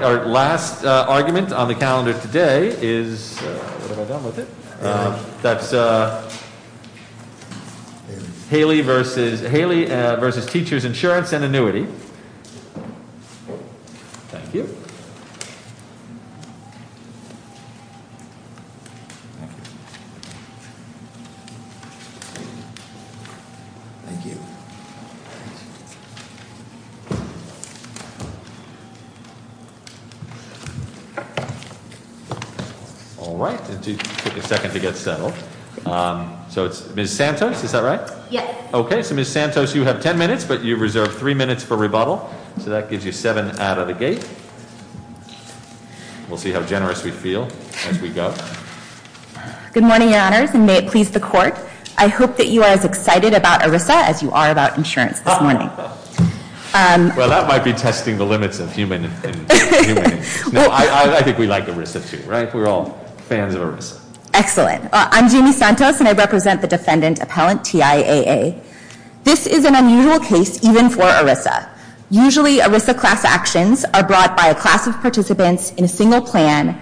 All right, our last argument on the calendar today is, what have I done with it? That's Haley v. Teachers Insurance and Annuity. Thank you. Thank you. All right, it took a second to get settled. So it's Ms. Santos, is that right? Yes. Okay, so Ms. Santos, you have ten minutes, but you reserve three minutes for rebuttal. So that gives you seven out of the gate. We'll see how generous we feel as we go. Good morning, your honors, and may it please the court. I hope that you are as excited about ERISA as you are about insurance this morning. Well, that might be testing the limits of human and human. No, I think we like ERISA too, right? We're all fans of ERISA. Excellent, I'm Jeannie Santos and I represent the defendant appellant TIAA. This is an unusual case even for ERISA. Usually, ERISA class actions are brought by a class of participants in a single plan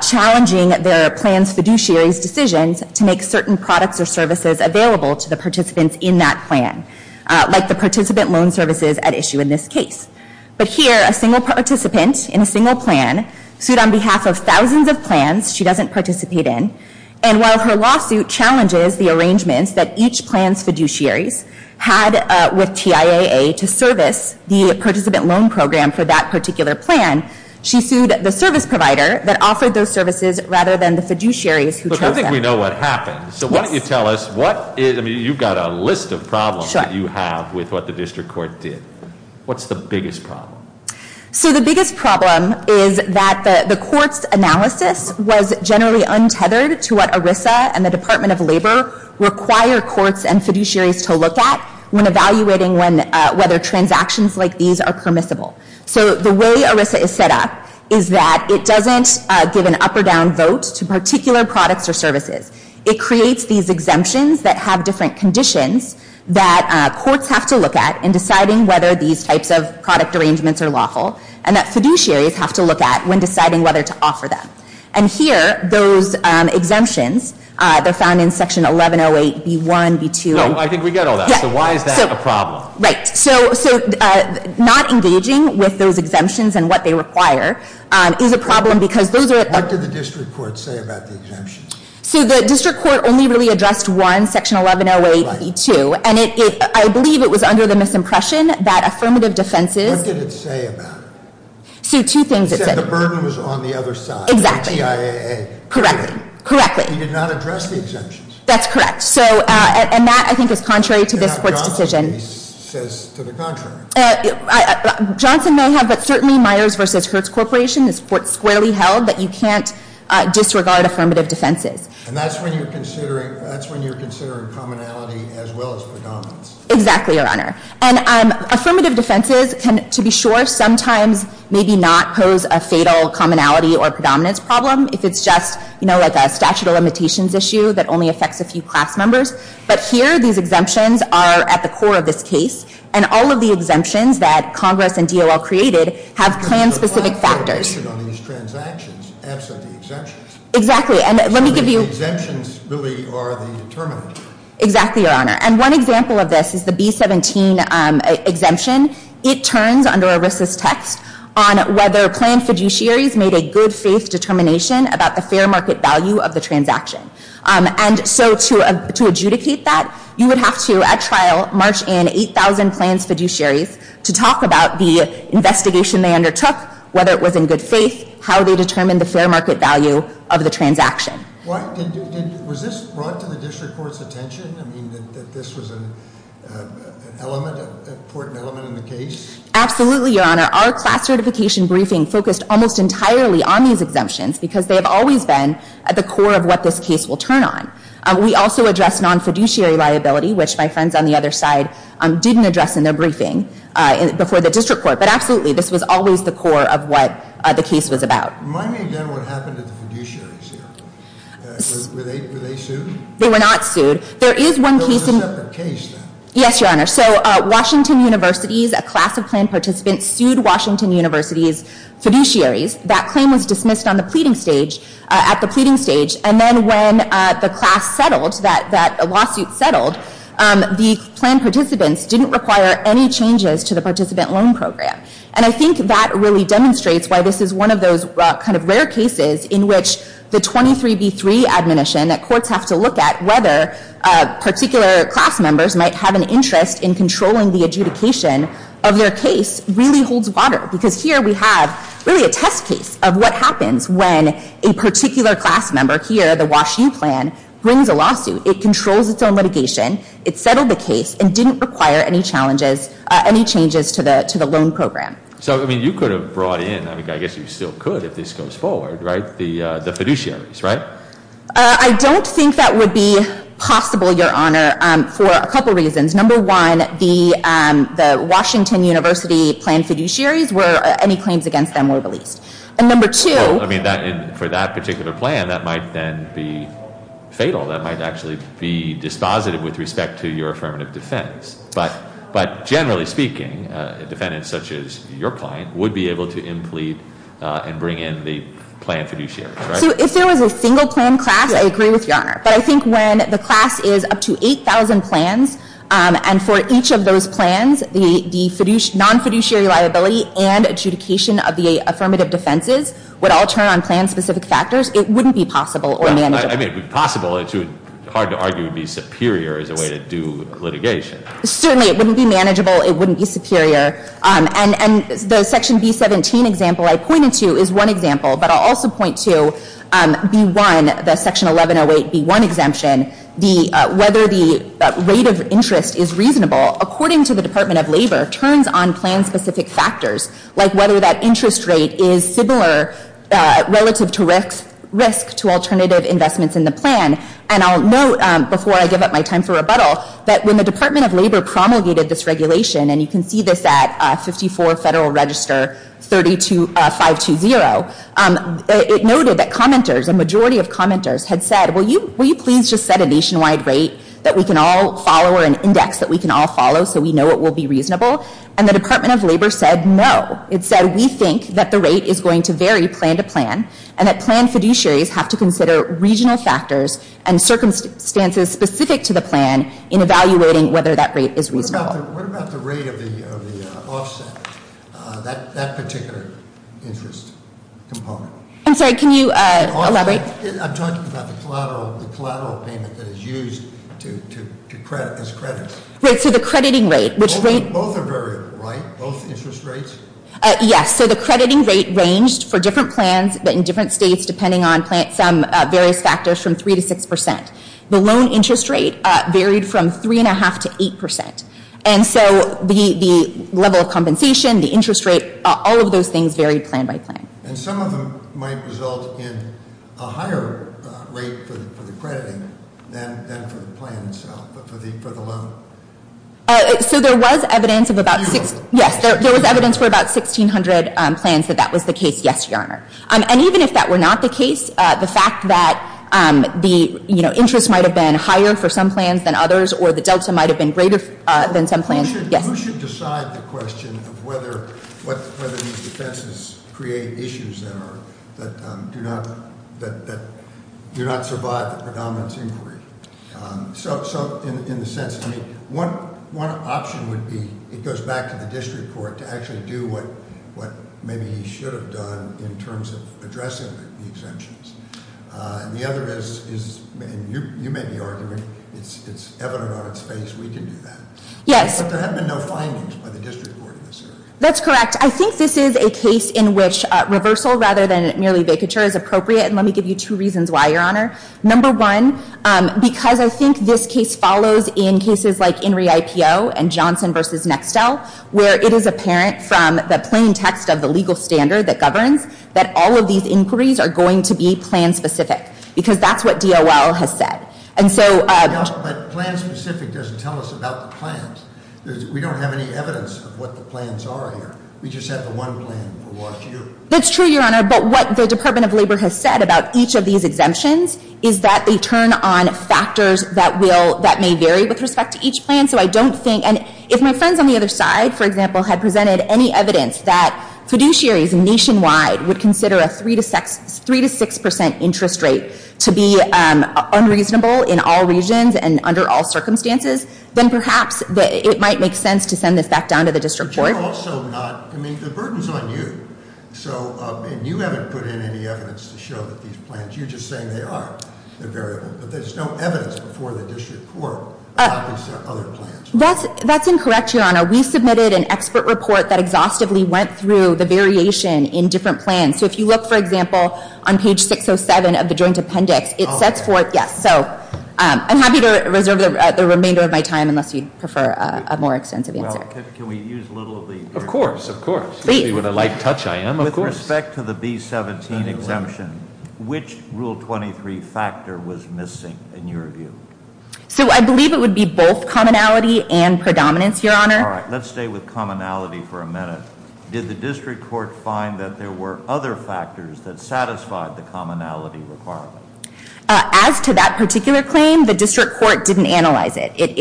challenging their plan's fiduciary's decisions to make certain products or services available to the participants in that plan. Like the participant loan services at issue in this case. But here, a single participant in a single plan sued on behalf of thousands of plans she doesn't participate in. And while her lawsuit challenges the arrangements that each plan's fiduciaries had with TIAA to service the participant loan program for that particular plan. She sued the service provider that offered those services rather than the fiduciaries who chose them. We know what happened. So why don't you tell us, you've got a list of problems that you have with what the district court did. What's the biggest problem? So the biggest problem is that the court's analysis was generally untethered to what ERISA and the Department of Labor require courts and fiduciaries to look at when evaluating whether transactions like these are permissible. So the way ERISA is set up is that it doesn't give an up or down vote to particular products or services. It creates these exemptions that have different conditions that courts have to look at in deciding whether these types of product arrangements are lawful. And that fiduciaries have to look at when deciding whether to offer them. And here, those exemptions, they're found in section 1108B1, B2- No, I think we get all that. So why is that a problem? Right, so not engaging with those exemptions and what they require is a problem because those are- What did the district court say about the exemptions? So the district court only really addressed one, section 1108B2. And I believe it was under the misimpression that affirmative defenses- What did it say about it? See, two things it said. It said the burden was on the other side. Exactly. The TIAA. Correct. Correctly. He did not address the exemptions. That's correct. So, and that I think is contrary to this court's decision. And Johnson maybe says to the contrary. Johnson may have, but certainly Myers versus Hurts Corporation is squarely held that you can't disregard affirmative defenses. And that's when you're considering commonality as well as predominance. Exactly, Your Honor. And affirmative defenses can, to be sure, sometimes maybe not pose a fatal commonality or a statute of limitations issue that only affects a few class members. But here, these exemptions are at the core of this case. And all of the exemptions that Congress and DOL created have plan-specific factors. But the clarification on these transactions absent the exemptions. Exactly, and let me give you- So the exemptions really are the determinant. Exactly, Your Honor. And one example of this is the B17 exemption. It turns under a racist text on whether planned fiduciaries made a good faith determination about the fair market value of the transaction. And so to adjudicate that, you would have to, at trial, march in 8,000 plans fiduciaries to talk about the investigation they undertook, whether it was in good faith, how they determined the fair market value of the transaction. Was this brought to the district court's attention? I mean, that this was an important element in the case? Absolutely, Your Honor. Our class certification briefing focused almost entirely on these exemptions, because they have always been at the core of what this case will turn on. We also addressed non-fiduciary liability, which my friends on the other side didn't address in their briefing before the district court. But absolutely, this was always the core of what the case was about. Remind me again what happened to the fiduciaries here. Were they sued? They were not sued. Those are separate cases. Yes, Your Honor. So Washington University's class of planned participants sued Washington University's fiduciaries. That claim was dismissed on the pleading stage, at the pleading stage. And then when the class settled, that lawsuit settled, the planned participants didn't require any changes to the participant loan program. And I think that really demonstrates why this is one of those kind of rare cases in which the 23B3 admonition that courts have to look at whether particular class members might have an interest in controlling the adjudication of their case really holds water. Because here we have really a test case of what happens when a particular class member here, the Wash U plan, brings a lawsuit. It controls its own litigation, it settled the case, and didn't require any changes to the loan program. So I mean, you could have brought in, I guess you still could if this goes forward, right? The fiduciaries, right? I don't think that would be possible, Your Honor, for a couple reasons. Number one, the Washington University planned fiduciaries were, any claims against them were released. And number two- I mean, for that particular plan, that might then be fatal. That might actually be dispositive with respect to your affirmative defense. But generally speaking, defendants such as your client would be able to implead and bring in the planned fiduciaries, right? So if there was a single plan class, I agree with Your Honor. But I think when the class is up to 8,000 plans, and for each of those plans, the non-fiduciary liability and adjudication of the affirmative defenses would all turn on plan-specific factors. It wouldn't be possible or manageable. I mean, it would be possible, it's hard to argue it would be superior as a way to do litigation. Certainly, it wouldn't be manageable, it wouldn't be superior, and the section B17 example I pointed to is one example. But I'll also point to B1, the section 1108B1 exemption. Whether the rate of interest is reasonable, according to the Department of Labor, turns on plan-specific factors, like whether that interest rate is similar relative to risk to alternative investments in the plan. And I'll note, before I give up my time for rebuttal, that when the Department of Labor promulgated this regulation, and you can see this at 54 Federal Register 520. It noted that commenters, a majority of commenters, had said, will you please just set a nationwide rate that we can all follow, or an index that we can all follow so we know it will be reasonable? And the Department of Labor said no. It said we think that the rate is going to vary plan to plan, and that plan fiduciaries have to consider regional factors and circumstances specific to the plan in evaluating whether that rate is reasonable. What about the rate of the offset, that particular interest component? I'm sorry, can you elaborate? I'm talking about the collateral payment that is used as credit. Both are variable, right? Both interest rates? Yes, so the crediting rate ranged for different plans in different states, depending on some various factors from 3 to 6%. The loan interest rate varied from 3.5 to 8%. And so the level of compensation, the interest rate, all of those things varied plan by plan. And some of them might result in a higher rate for the crediting than for the plan itself, for the loan. So there was evidence of about, yes, there was evidence for about 1,600 plans that that was the case, yes, your honor. And even if that were not the case, the fact that the interest might have been higher for some plans than others, or the delta might have been greater than some plans, yes. Who should decide the question of whether these defenses create issues that do not survive the predominant inquiry? So in the sense, I mean, one option would be, it goes back to the district court to actually do what maybe he should have done in terms of addressing the exemptions. And the other is, and you may be arguing, it's evident on its face, we can do that. Yes. But there have been no findings by the district court in this area. That's correct. I think this is a case in which reversal rather than merely vacature is appropriate, and let me give you two reasons why, your honor. Number one, because I think this case follows in cases like Henry IPO and Johnson versus Nextel, where it is apparent from the plain text of the legal standard that governs that all of these inquiries are going to be plan specific, because that's what DOL has said. And so- Yeah, but plan specific doesn't tell us about the plans. We don't have any evidence of what the plans are here. We just have the one plan for Wash U. That's true, your honor. But what the Department of Labor has said about each of these exemptions is that they turn on factors that may vary with respect to each plan. So I don't think, and if my friends on the other side, for example, had presented any evidence that fiduciaries nationwide would consider a 3 to 6% interest rate to be unreasonable in all regions and under all circumstances, then perhaps it might make sense to send this back down to the district court. But you're also not, I mean, the burden's on you. So, and you haven't put in any evidence to show that these plans, you're just saying they are, they're variable. But there's no evidence before the district court about these other plans. That's incorrect, your honor. We submitted an expert report that exhaustively went through the variation in different plans. So if you look, for example, on page 607 of the joint appendix, it sets forth, yes. So I'm happy to reserve the remainder of my time unless you prefer a more extensive answer. Well, can we use a little of the- Of course, of course. See what a light touch I am, of course. With respect to the B17 exemption, which rule 23 factor was missing in your view? So I believe it would be both commonality and predominance, your honor. All right, let's stay with commonality for a minute. Did the district court find that there were other factors that satisfied the commonality requirement? As to that particular claim, the district court didn't analyze it. It-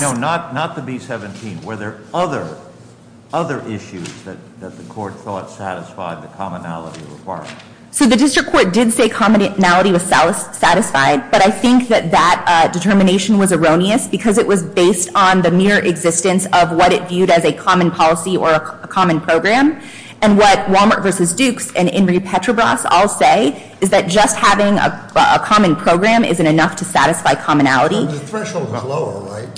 No, not the B17. Were there other issues that the court thought satisfied the commonality requirement? So the district court did say commonality was satisfied, but I think that that determination was erroneous. Because it was based on the mere existence of what it viewed as a common policy or a common program. And what Wal-Mart versus Dukes and Ingrid Petrobras all say is that just having a common program isn't enough to satisfy commonality. The threshold is lower, right?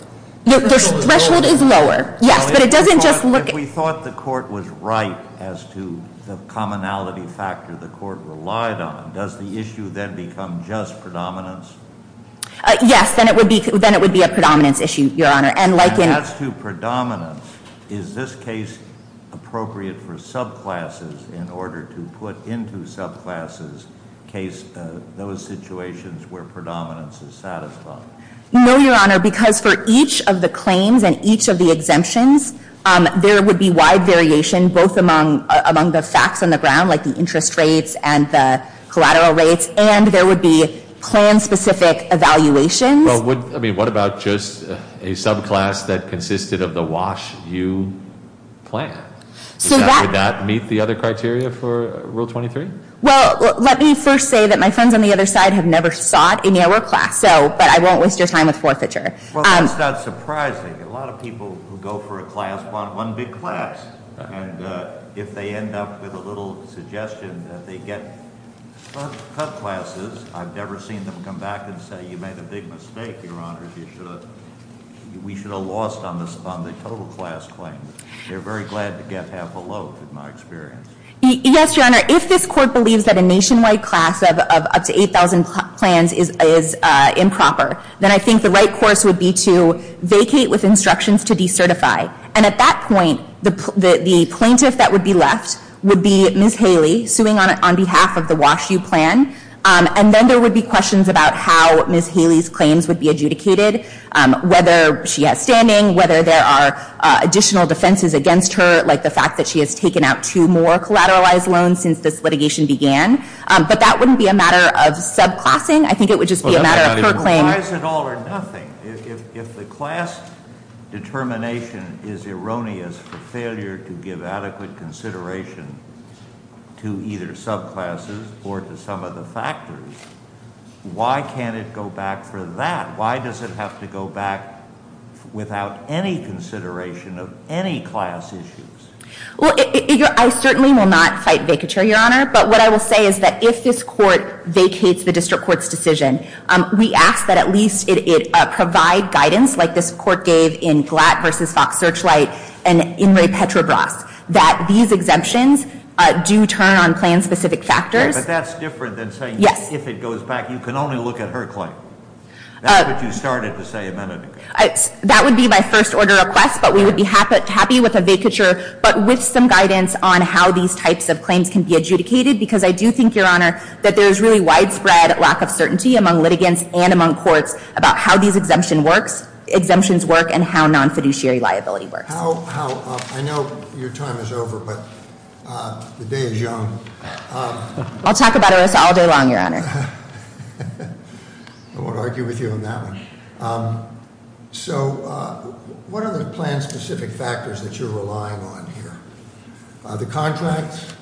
The threshold is lower, yes, but it doesn't just look- If we thought the court was right as to the commonality factor the court relied on, does the issue then become just predominance? Yes, then it would be a predominance issue, your honor. And like in- And as to predominance, is this case appropriate for subclasses in order to put into subclasses those situations where predominance is satisfied? No, your honor, because for each of the claims and each of the exemptions, there would be wide variation both among the facts on the ground, like the interest rates and the collateral rates, and there would be plan-specific evaluations. Well, I mean, what about just a subclass that consisted of the Wash U plan? So would that meet the other criteria for Rule 23? Well, let me first say that my friends on the other side have never sought any of our class, but I won't waste your time with forfeiture. Well, that's not surprising. A lot of people who go for a class want one big class. And if they end up with a little suggestion that they get cut classes, I've never seen them come back and say you made a big mistake, your honor, we should have lost on the total class claim. They're very glad to get half a load, in my experience. Yes, your honor, if this court believes that a nationwide class of up to 8,000 plans is improper, then I think the right course would be to vacate with instructions to decertify. And at that point, the plaintiff that would be left would be Ms. Haley, suing on behalf of the Wash U plan. And then there would be questions about how Ms. Haley's claims would be adjudicated, whether she has standing, whether there are additional defenses against her, like the fact that she has taken out two more collateralized loans since this litigation began. But that wouldn't be a matter of subclassing, I think it would just be a matter of her claim. Why is it all or nothing, if the class determination is erroneous for failure to give adequate consideration to either subclasses or to some of the factors, why can't it go back for that? Why does it have to go back without any consideration of any class issues? Well, I certainly will not fight vacature, your honor. But what I will say is that if this court vacates the district court's decision, we ask that at least it provide guidance like this court gave in Glatt versus Fox Searchlight and in Ray Petrobras, that these exemptions do turn on plan specific factors. But that's different than saying if it goes back, you can only look at her claim. That's what you started to say a minute ago. That would be my first order of request, but we would be happy with a vacature, but with some guidance on how these types of claims can be adjudicated. Because I do think, your honor, that there's really widespread lack of certainty among litigants and among courts about how these exemptions work and how non-fiduciary liability works. How, I know your time is over, but the day is young. I'll talk about it all day long, your honor. I won't argue with you on that one. So, what are the plan specific factors that you're relying on here? The contract,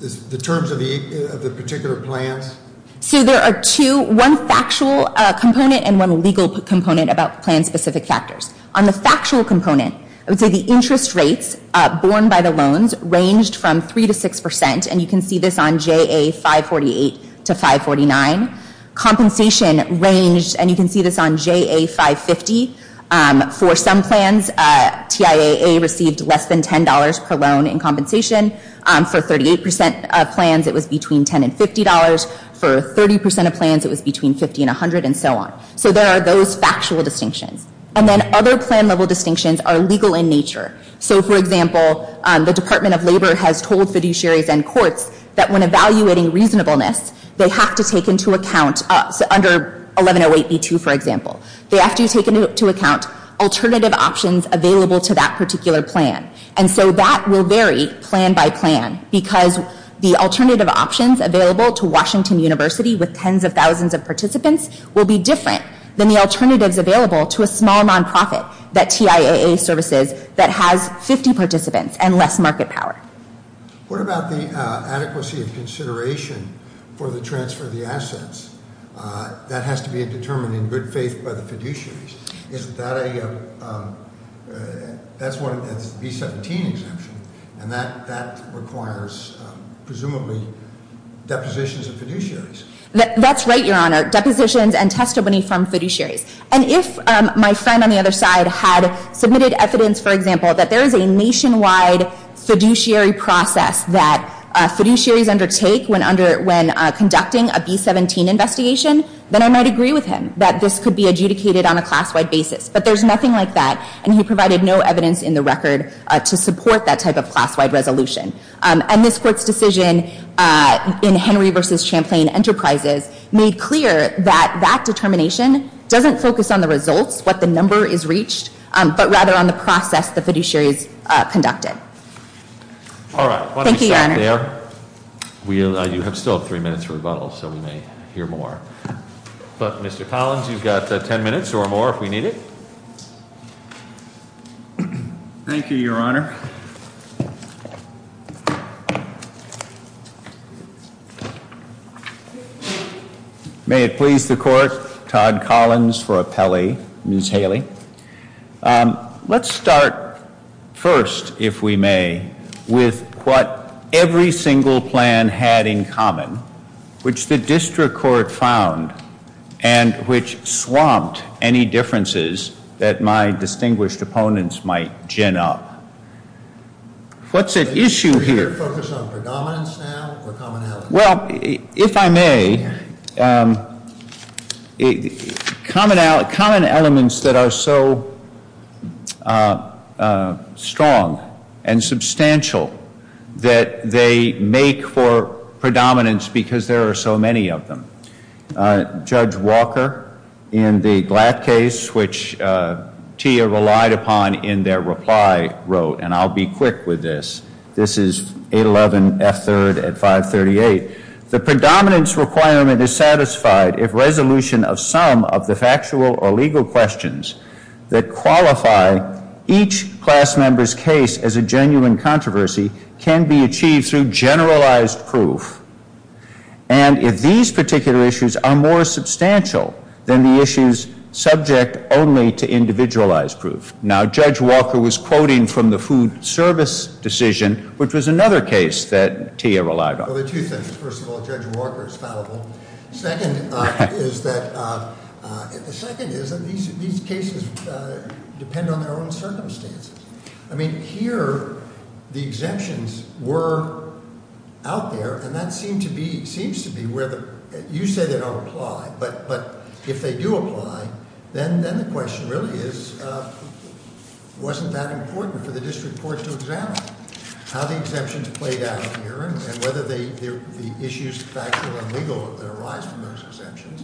the terms of the particular plans. So there are two, one factual component and one legal component about plan specific factors. On the factual component, I would say the interest rates borne by the loans ranged from 3 to 6%. And you can see this on JA 548 to 549. Compensation ranged, and you can see this on JA 550. For some plans, TIAA received less than $10 per loan in compensation. For 38% of plans, it was between $10 and $50. For 30% of plans, it was between $50 and $100, and so on. So there are those factual distinctions. And then other plan level distinctions are legal in nature. So for example, the Department of Labor has told fiduciaries and courts that when evaluating reasonableness, they have to take into account, under 1108B2, for example. They have to take into account alternative options available to that particular plan. And so that will vary plan by plan, because the alternative options available to Washington University, with tens of thousands of participants, will be different than the alternatives available to a small non-profit, that TIAA services, that has 50 participants and less market power. What about the adequacy of consideration for the transfer of the assets? That has to be determined in good faith by the fiduciaries. Isn't that a, that's one, it's a B-17 exemption. And that requires, presumably, depositions of fiduciaries. That's right, your honor. Depositions and testimony from fiduciaries. And if my friend on the other side had submitted evidence, for example, that there is a nationwide fiduciary process that fiduciaries undertake when conducting a B-17 investigation, then I might agree with him that this could be adjudicated on a class-wide basis. But there's nothing like that, and he provided no evidence in the record to support that type of class-wide resolution. And this court's decision in Henry versus Champlain Enterprises made clear that that determination doesn't focus on the results, what the number is reached, but rather on the process the fiduciaries conducted. All right, why don't we stop there. Thank you, your honor. We'll, you have still three minutes for rebuttal, so we may hear more. But Mr. Collins, you've got ten minutes or more if we need it. Thank you, your honor. May it please the court, Todd Collins for appellee, Ms. Haley. Let's start first, if we may, with what every single plan had in common, which the district court found, and which swamped any differences that my distinguished opponents might gin up. What's at issue here? Are you here to focus on predominance now, or commonality? Well, if I may, common elements that are so strong and substantial that they make for predominance because there are so many of them. Judge Walker, in the Glatt case, which Tia relied upon in their reply, wrote, and I'll be quick with this. This is 811 F3rd at 538. The predominance requirement is satisfied if resolution of some of the factual or legal questions that qualify each class member's case as a genuine controversy can be achieved through generalized proof. And if these particular issues are more substantial than the issues subject only to individualized proof. Now, Judge Walker was quoting from the food service decision, which was another case that Tia relied on. Well, there are two things. First of all, Judge Walker is fallible. Second is that, the second is that these cases depend on their own circumstances. I mean, here, the exemptions were out there, and that seems to be where the, you say they don't apply, but if they do apply, then the question really is, wasn't that important for the district court to examine how the exemptions played out here, and whether the issues factual and legal that arise from those exemptions,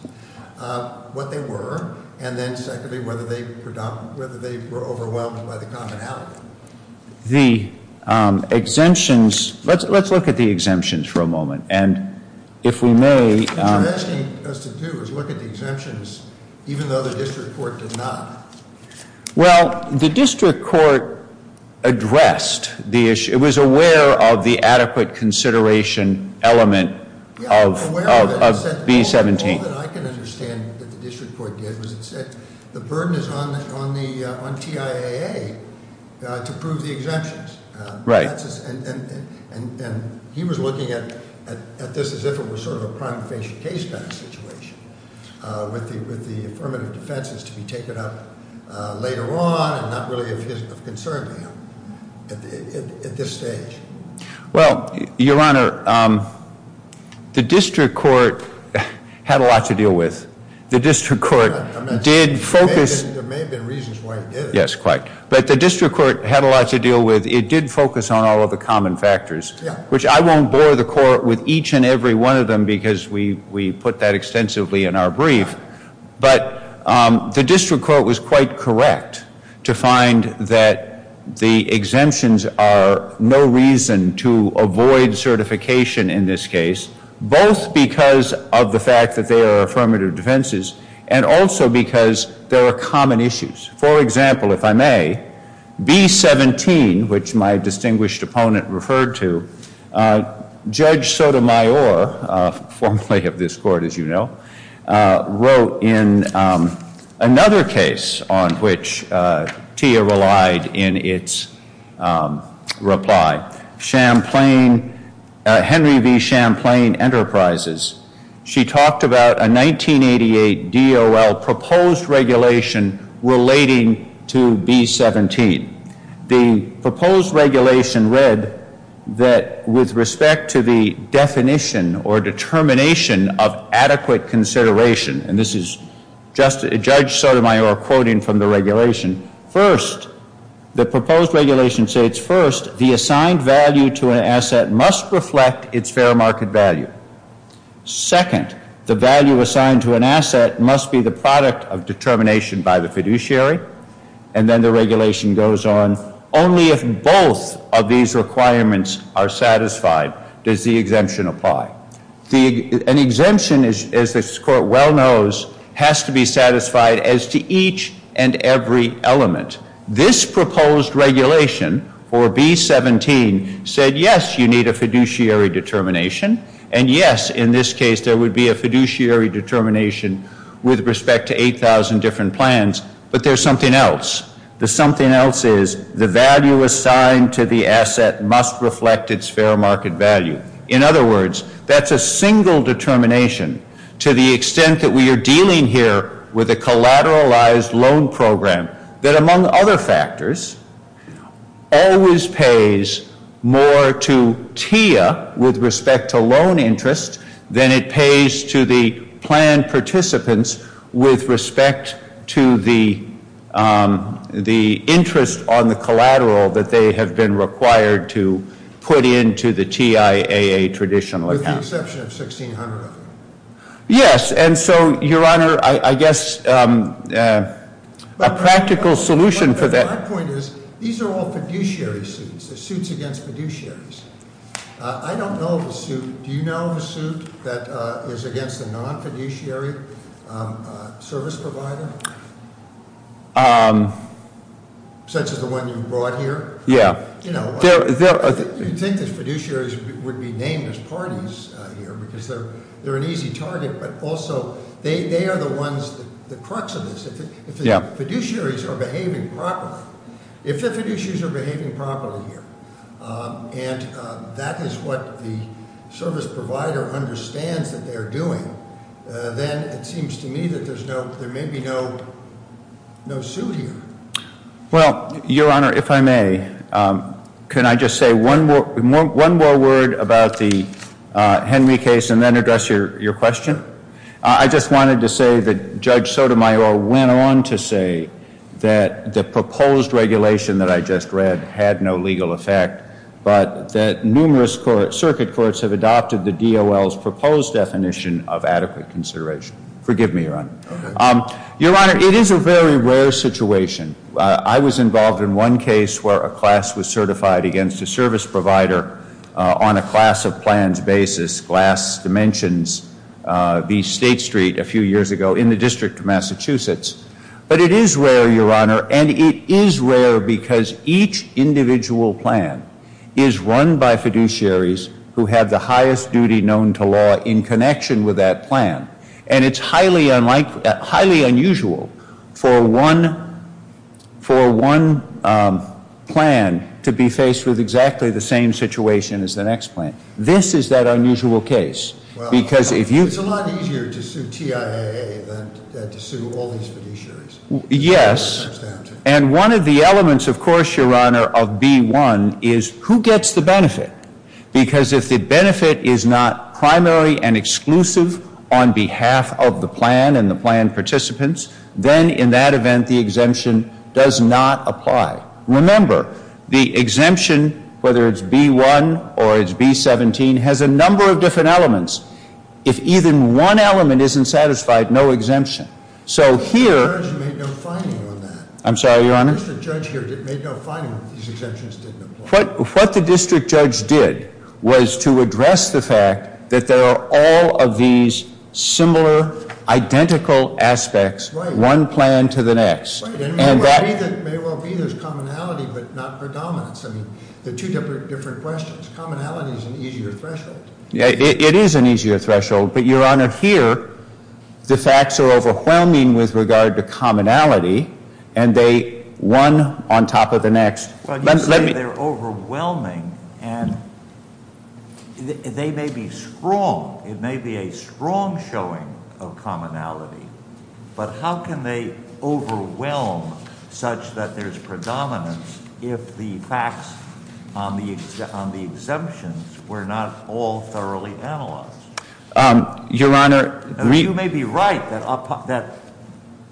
what they were. And then secondly, whether they were overwhelmed by the commonality. The exemptions, let's look at the exemptions for a moment. And if we may- What you're asking us to do is look at the exemptions, even though the district court did not. Well, the district court addressed the issue. It was aware of the adequate consideration element of B17. Yeah, aware of it, but all that I can understand that the district court did was it said, the burden is on TIAA to prove the exemptions. Right. And he was looking at this as if it was sort of a prime case kind of situation. With the affirmative defenses to be taken up later on and not really of concern to him at this stage. Well, your honor, the district court had a lot to deal with. The district court did focus- There may have been reasons why he did it. Yes, quite. But the district court had a lot to deal with. It did focus on all of the common factors. Which I won't bore the court with each and every one of them because we put that extensively in our brief. But the district court was quite correct to find that the exemptions are no reason to avoid certification in this case. Both because of the fact that they are affirmative defenses and also because there are common issues. For example, if I may, B-17, which my distinguished opponent referred to, Judge Sotomayor, formerly of this court as you know, wrote in another case on which TIAA relied in its reply. Champlain, Henry V Champlain Enterprises. She talked about a 1988 DOL proposed regulation relating to B-17. The proposed regulation read that with respect to the definition or determination of adequate consideration, and this is Judge Sotomayor quoting from the regulation. First, the assigned value to an asset must reflect its fair market value. Second, the value assigned to an asset must be the product of determination by the fiduciary. And then the regulation goes on, only if both of these requirements are satisfied does the exemption apply. An exemption, as this court well knows, has to be satisfied as to each and every element. This proposed regulation for B-17 said, yes, you need a fiduciary determination. And yes, in this case, there would be a fiduciary determination with respect to 8,000 different plans. But there's something else. The something else is the value assigned to the asset must reflect its fair market value. In other words, that's a single determination to the extent that we are dealing here with a collateralized loan program that, among other factors, always pays more to TIA with respect to loan interest than it pays to the planned participants with respect to the interest on the collateral that they have been required to put into the TIAA traditional account. With the exception of 1,600 of them. Yes, and so, your honor, I guess a practical solution for that- My point is, these are all fiduciary suits. They're suits against fiduciaries. I don't know of a suit. Do you know of a suit that is against a non-fiduciary service provider? Such as the one you brought here? Yeah. You'd think that fiduciaries would be named as parties here, because they're an easy target. But also, they are the ones, the crux of this, if the fiduciaries are behaving properly. If the fiduciaries are behaving properly here, and that is what the service provider understands that they're doing, then it seems to me that there may be no suit here. Well, your honor, if I may, can I just say one more word about the Henry case, and then address your question? I just wanted to say that Judge Sotomayor went on to say that the proposed regulation that I just read had no legal effect, but that numerous circuit courts have adopted the DOL's proposed definition of adequate consideration. Forgive me, your honor. Your honor, it is a very rare situation. I was involved in one case where a class was certified against a service provider on a class of plans basis. Glass Dimensions v. State Street a few years ago in the District of Massachusetts. But it is rare, your honor, and it is rare because each individual plan is run by fiduciaries who have the highest duty known to law in connection with that plan. And it's highly unusual for one plan to be faced with exactly the same situation as the next plan. This is that unusual case. Because if you- It's a lot easier to sue TIAA than to sue all these fiduciaries. Yes, and one of the elements, of course, your honor, of B1 is who gets the benefit? Because if the benefit is not primary and exclusive on behalf of the plan and the plan participants, then in that event, the exemption does not apply. Remember, the exemption, whether it's B1 or it's B17, has a number of different elements. If even one element isn't satisfied, no exemption. So here- The judge made no finding on that. I'm sorry, your honor? The district judge here made no finding that these exemptions didn't apply. What the district judge did was to address the fact that there are all of these similar, identical aspects, one plan to the next. And that- May well be there's commonality, but not predominance. I mean, they're two different questions. Commonality is an easier threshold. Yeah, it is an easier threshold. But your honor, here, the facts are overwhelming with regard to commonality. And they, one on top of the next. Well, you say they're overwhelming, and they may be strong. It may be a strong showing of commonality. But how can they overwhelm such that there's predominance if the facts on the exemptions were not all thoroughly analyzed? Your honor, we- You may be right that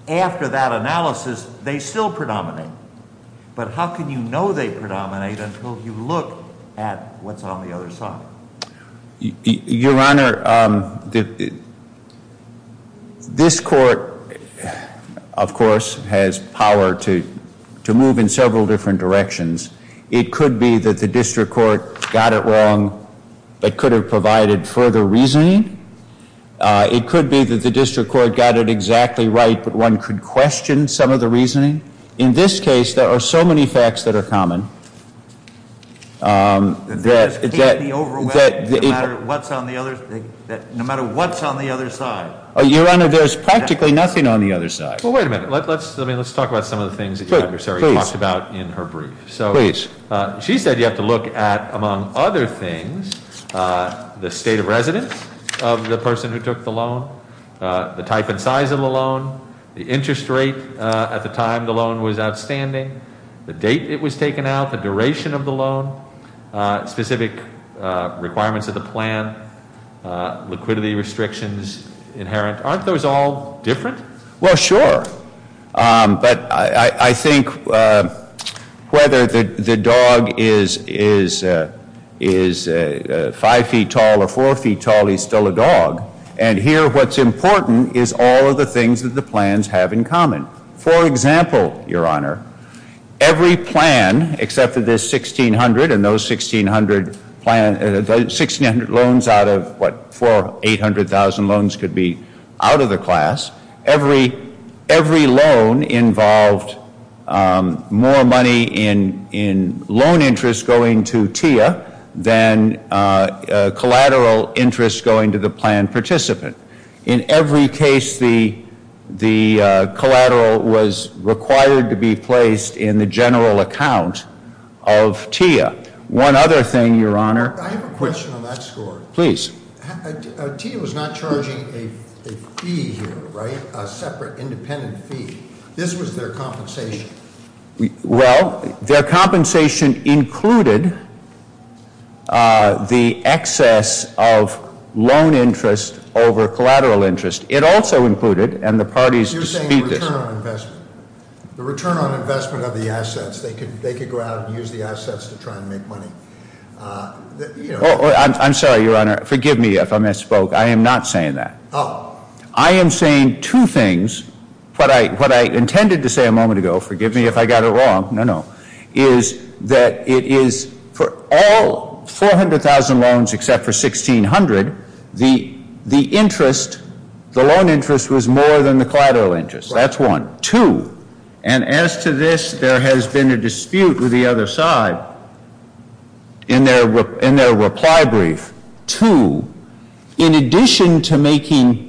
after that analysis, they still predominate. But how can you know they predominate until you look at what's on the other side? Your honor, this court, of course, has power to move in several different directions. It could be that the district court got it wrong, but could have provided further reasoning. It could be that the district court got it exactly right, but one could question some of the reasoning. In this case, there are so many facts that are common that- That this can't be overwhelming no matter what's on the other, no matter what's on the other side. Your honor, there's practically nothing on the other side. Well, wait a minute, let's talk about some of the things that your adversary talked about in her brief. So- Please. She said you have to look at, among other things, the state of residence of the person who took the loan, the type and size of the loan, the interest rate at the time the loan was outstanding, the date it was taken out, the duration of the loan, specific requirements of the plan, liquidity restrictions inherent, aren't those all different? Well, sure, but I think whether the dog is five feet tall or four feet tall, he's still a dog. And here, what's important is all of the things that the plans have in common. For example, your honor, every plan, except for this 1,600 and those 1,600 loans out of, what, four 800,000 loans could be out of the class. Every loan involved more money in the loan than the loan participant. In every case, the collateral was required to be placed in the general account of TIA. One other thing, your honor- I have a question on that score. Please. TIA was not charging a fee here, right? A separate, independent fee. This was their compensation. Well, their compensation included the excess of loan interest over collateral interest. It also included, and the parties dispute this- You're saying the return on investment. The return on investment of the assets. They could go out and use the assets to try and make money. I'm sorry, your honor. Forgive me if I misspoke. I am not saying that. I am saying two things. What I intended to say a moment ago, forgive me if I got it wrong, no, no. Is that it is for all 400,000 loans except for 1,600, the interest, the loan interest was more than the collateral interest. That's one. Two, and as to this, there has been a dispute with the other side in their reply brief. Two, in addition to making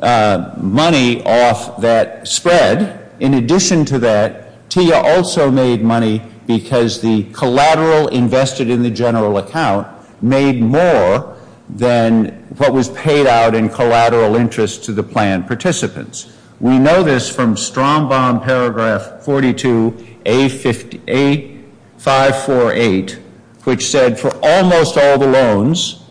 money off that spread, in addition to that, TIA also made money because the collateral invested in the general account made more than what was paid out in collateral interest to the plan participants. We know this from Strombaum paragraph 42, A548, which said for almost all the loans,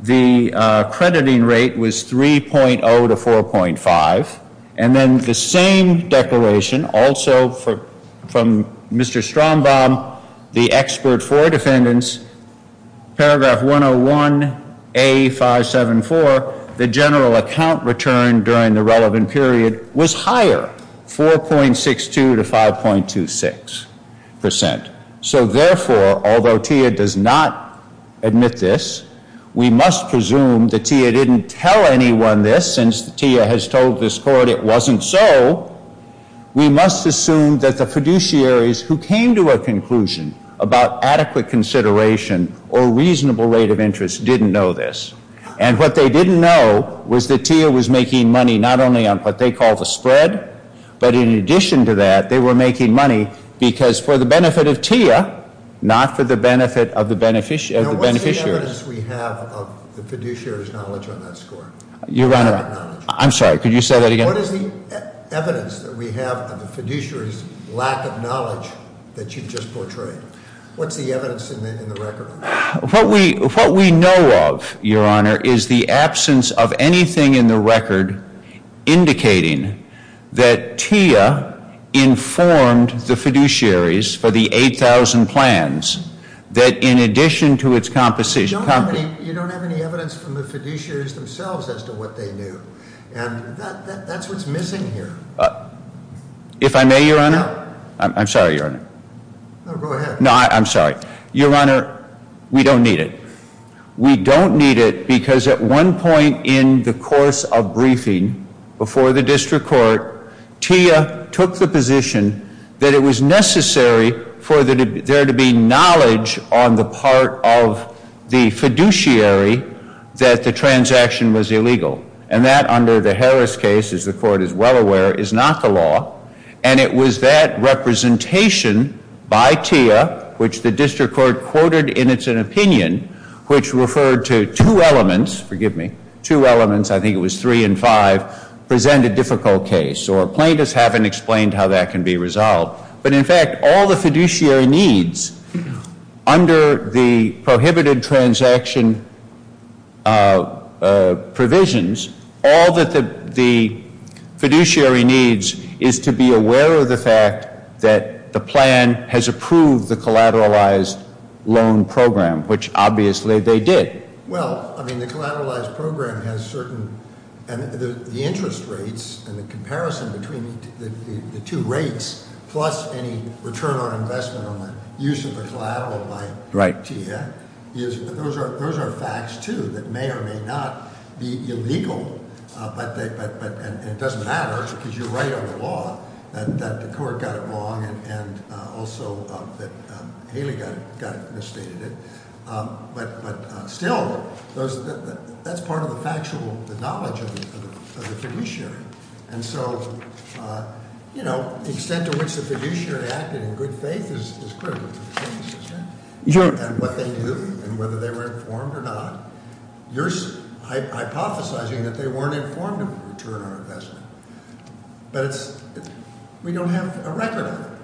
the crediting rate was 3.0 to 4.5. And then the same declaration also from Mr. Strombaum, the expert for defendants, paragraph 101, A574, the general account return during the relevant period was higher, 4.62 to 5.26%. So therefore, although TIA does not admit this, we must presume that TIA didn't tell anyone this since TIA has told this court it wasn't so. We must assume that the fiduciaries who came to a conclusion about adequate consideration or reasonable rate of interest didn't know this. And what they didn't know was that TIA was making money not only on what they call the spread, but in addition to that, they were making money because for the benefit of TIA, not for the benefit of the beneficiary. Now, what's the evidence we have of the fiduciary's knowledge on that score? Your Honor, I'm sorry, could you say that again? What is the evidence that we have of the fiduciary's lack of knowledge that you just portrayed? What's the evidence in the record? What we know of, Your Honor, is the absence of anything in the record indicating that TIA informed the fiduciaries for the 8,000 plans that in addition to its composition. You don't have any evidence from the fiduciaries themselves as to what they knew. And that's what's missing here. If I may, Your Honor. I'm sorry, Your Honor. No, go ahead. No, I'm sorry. Your Honor, we don't need it. We don't need it because at one point in the course of briefing before the district court, TIA took the position that it was necessary for there to be knowledge on the part of the fiduciary that the transaction was illegal. And that under the Harris case, as the court is well aware, is not the law. And it was that representation by TIA, which the district court quoted in its opinion, which referred to two elements, forgive me, two elements, I think it was three and five, present a difficult case. Or plaintiffs haven't explained how that can be resolved. But in fact, all the fiduciary needs under the prohibited transaction provisions, all that the fiduciary needs is to be aware of the fact that the plan has approved the collateralized loan program, which obviously they did. Well, I mean, the collateralized program has certain, and the interest rates and the comparison between the two rates plus any return on investment on the use of the collateral by TIA. Those are facts, too, that may or may not be illegal. But it doesn't matter, because you're right on the law that the court got it wrong and also that Haley got it, misstated it. But still, that's part of the factual, the knowledge of the fiduciary. And so, the extent to which the fiduciary acted in good faith is critical to the case, isn't it? And what they knew, and whether they were informed or not. You're hypothesizing that they weren't informed of a return on investment, but we don't have a record of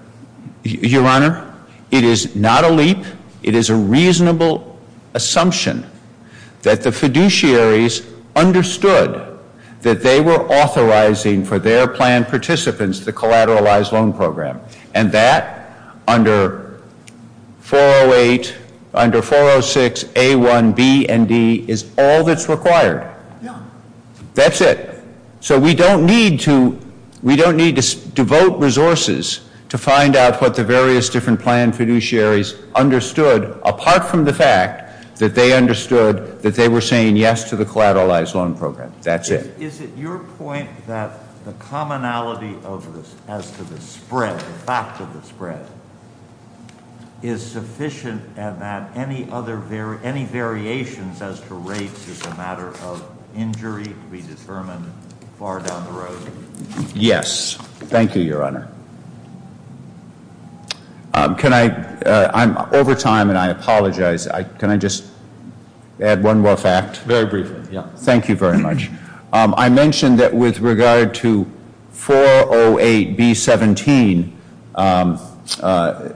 it. Your Honor, it is not a leap. It is a reasonable assumption that the fiduciaries understood that they were authorizing for their plan participants the collateralized loan program. And that under 408, under 406 A1B and D is all that's required. That's it. So we don't need to devote resources to find out what the various different plan fiduciaries understood, apart from the fact that they understood that they were saying yes to the collateralized loan program. That's it. Is it your point that the commonality of this as to the spread, the fact of the spread, is sufficient and that any other, any variations as to rates is a matter of injury to be determined far down the road? Yes. Thank you, Your Honor. Can I, I'm over time and I apologize. Can I just add one more fact? Very briefly, yeah. Thank you very much. I mentioned that with regard to 408B17,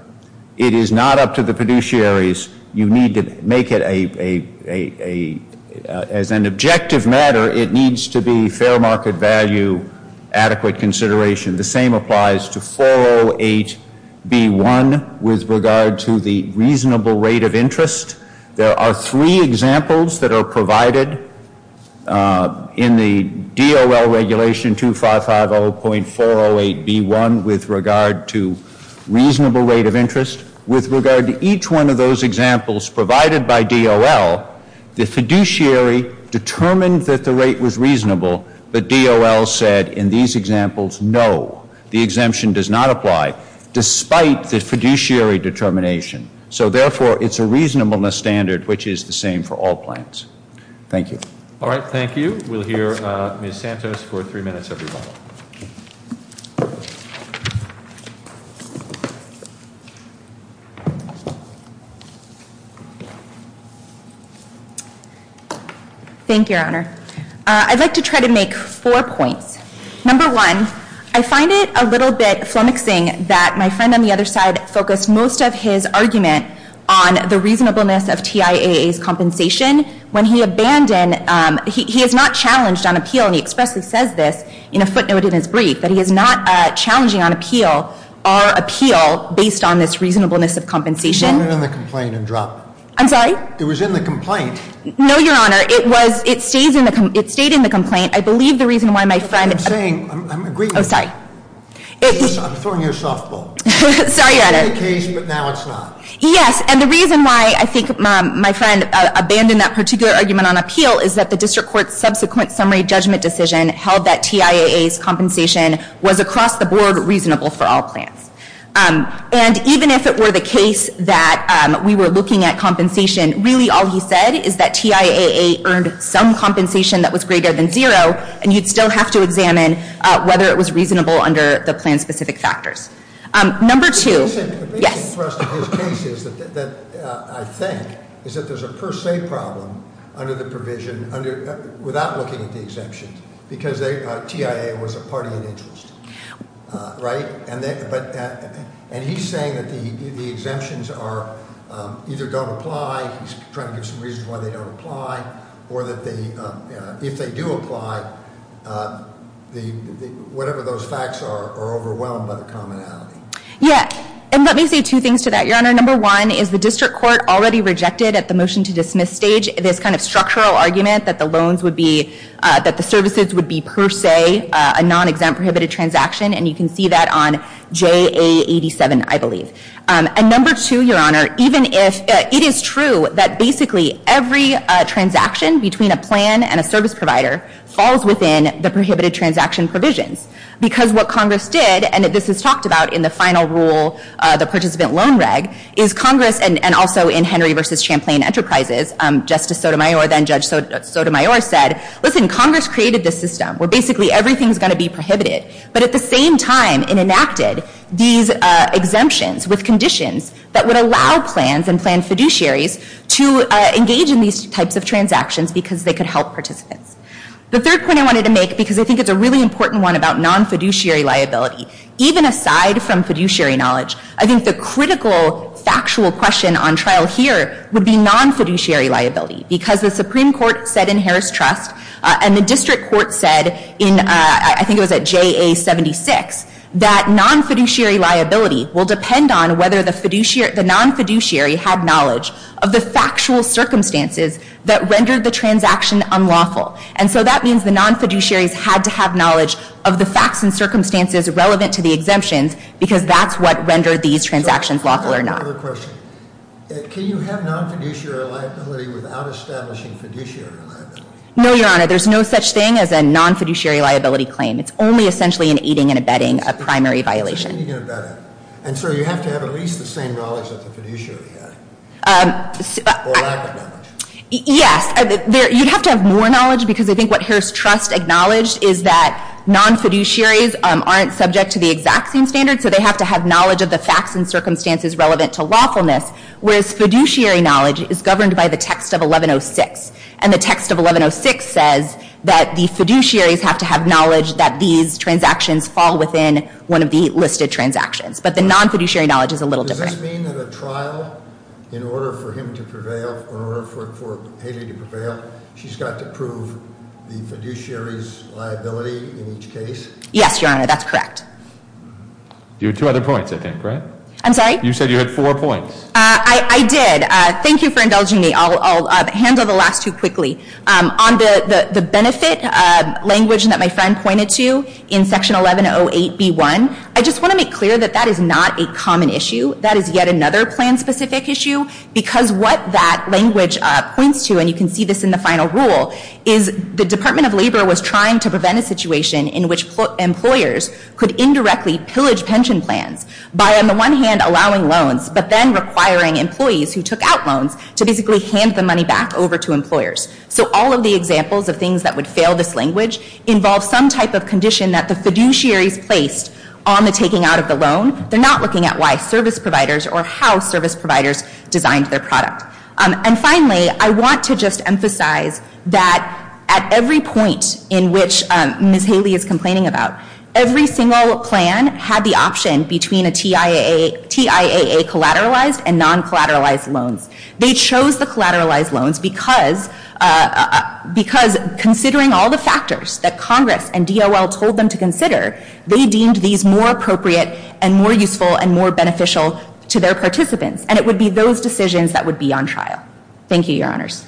it is not up to the fiduciaries. You need to make it a, as an objective matter, it needs to be fair market value, adequate consideration. The same applies to 408B1 with regard to the reasonable rate of interest. There are three examples that are provided in the DOL regulation 2550.408B1 with regard to reasonable rate of interest. With regard to each one of those examples provided by DOL, the fiduciary determined that the rate was reasonable, but DOL said in these examples, no. The exemption does not apply, despite the fiduciary determination. So therefore, it's a reasonableness standard, which is the same for all plans. Thank you. All right, thank you. We'll hear Ms. Santos for three minutes, everyone. Thank you, Your Honor. I'd like to try to make four points. Number one, I find it a little bit flummoxing that my friend on the other side focused most of his argument on the reasonableness of TIAA's compensation. When he abandoned, he is not challenged on appeal, and he expressly says this in a footnote in his brief, that he is not challenging on appeal, our appeal, based on this reasonableness of compensation. You went in the complaint and dropped it. I'm sorry? It was in the complaint. No, Your Honor, it stayed in the complaint. I believe the reason why my friend- I'm saying, I'm agreeing with you. Sorry. I'm throwing you a softball. Sorry, Your Honor. It was in the case, but now it's not. Yes, and the reason why I think my friend abandoned that particular argument on appeal is that the district court's subsequent summary judgment decision held that TIAA's compensation was across the board reasonable for all plans. And even if it were the case that we were looking at compensation, really all he said is that TIAA earned some compensation that was greater than zero, and you'd still have to examine whether it was reasonable under the plan's specific factors. Number two- Yes. The biggest thrust of his case is that I think is that there's a per se problem under the provision, without looking at the exemptions, because TIAA was a party in interest, right? And he's saying that the exemptions either don't apply, he's trying to give some reasons why they don't apply, or that if they do apply, whatever those facts are, are overwhelmed by the commonality. Yeah, and let me say two things to that, Your Honor. Number one is the district court already rejected at the motion to dismiss stage this kind of structural argument that the loans would be, that the services would be per se a non-exempt prohibited transaction, and you can see that on JA87, I believe. And number two, Your Honor, even if, it is true that basically every transaction between a plan and a service provider falls within the prohibited transaction provisions. Because what Congress did, and this is talked about in the final rule, the participant loan reg, is Congress, and also in Henry versus Champlain Enterprises, Justice Sotomayor, then Judge Sotomayor, said, listen, Congress created this system where basically everything's going to be prohibited. But at the same time, it enacted these exemptions with conditions that would allow plans and plan fiduciaries to engage in these types of transactions because they could help participants. The third point I wanted to make, because I think it's a really important one about non-fiduciary liability. Even aside from fiduciary knowledge, I think the critical factual question on trial here would be non-fiduciary liability, because the Supreme Court said in Harris Trust, and the district court said in, I think it was at JA76, that non-fiduciary liability will depend on whether the non-fiduciary had knowledge of the factual circumstances that rendered the transaction unlawful. And so that means the non-fiduciaries had to have knowledge of the facts and circumstances relevant to the exemptions, because that's what rendered these transactions lawful or not. I have another question. Can you have non-fiduciary liability without establishing fiduciary liability? No, your honor, there's no such thing as a non-fiduciary liability claim. It's only essentially an aiding and abetting a primary violation. Aiding and abetting. And so you have to have at least the same knowledge that the fiduciary had, or lack of knowledge. Yes, you'd have to have more knowledge, because I think what Harris Trust acknowledged is that non-fiduciaries aren't subject to the exact same standard. So they have to have knowledge of the facts and circumstances relevant to lawfulness, whereas fiduciary knowledge is governed by the text of 1106. And the text of 1106 says that the fiduciaries have to have knowledge that these transactions fall within one of the listed transactions. But the non-fiduciary knowledge is a little different. Does this mean that a trial, in order for him to prevail, or in order for Haley to prevail, she's got to prove the fiduciary's liability in each case? Yes, your honor, that's correct. You had two other points, I think, right? I'm sorry? You said you had four points. I did. Thank you for indulging me. I'll handle the last two quickly. On the benefit language that my friend pointed to in section 1108B1, I just want to make clear that that is not a common issue. That is yet another plan-specific issue, because what that language points to, and you can see this in the final rule, is the Department of Labor was trying to prevent a situation in which employers could indirectly pillage pension plans by, on the one hand, allowing loans, but then requiring employees who took out loans to basically hand the money back over to employers. So all of the examples of things that would fail this language involve some type of condition that the fiduciaries placed on the taking out of the loan. They're not looking at why service providers or how service providers designed their product. And finally, I want to just emphasize that at every point in which Ms. Haley is complaining about, every single plan had the option between a TIAA collateralized and non-collateralized loans. They chose the collateralized loans because considering all the factors that Congress and DOL told them to consider, they deemed these more appropriate and more useful and more beneficial to their participants. And it would be those decisions that would be on trial. Thank you, your honors.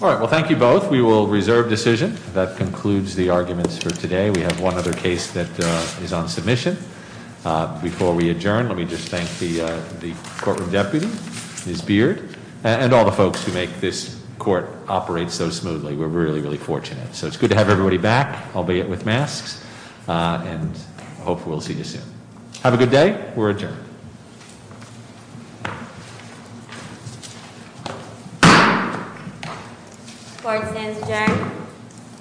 All right, well, thank you both. We will reserve decision. That concludes the arguments for today. We have one other case that is on submission. Before we adjourn, let me just thank the courtroom deputy, Ms. Beard, and all the folks who make this court operate so smoothly. We're really, really fortunate. So it's good to have everybody back, albeit with masks, and I hope we'll see you soon. Have a good day. We're adjourned. Court stands adjourned.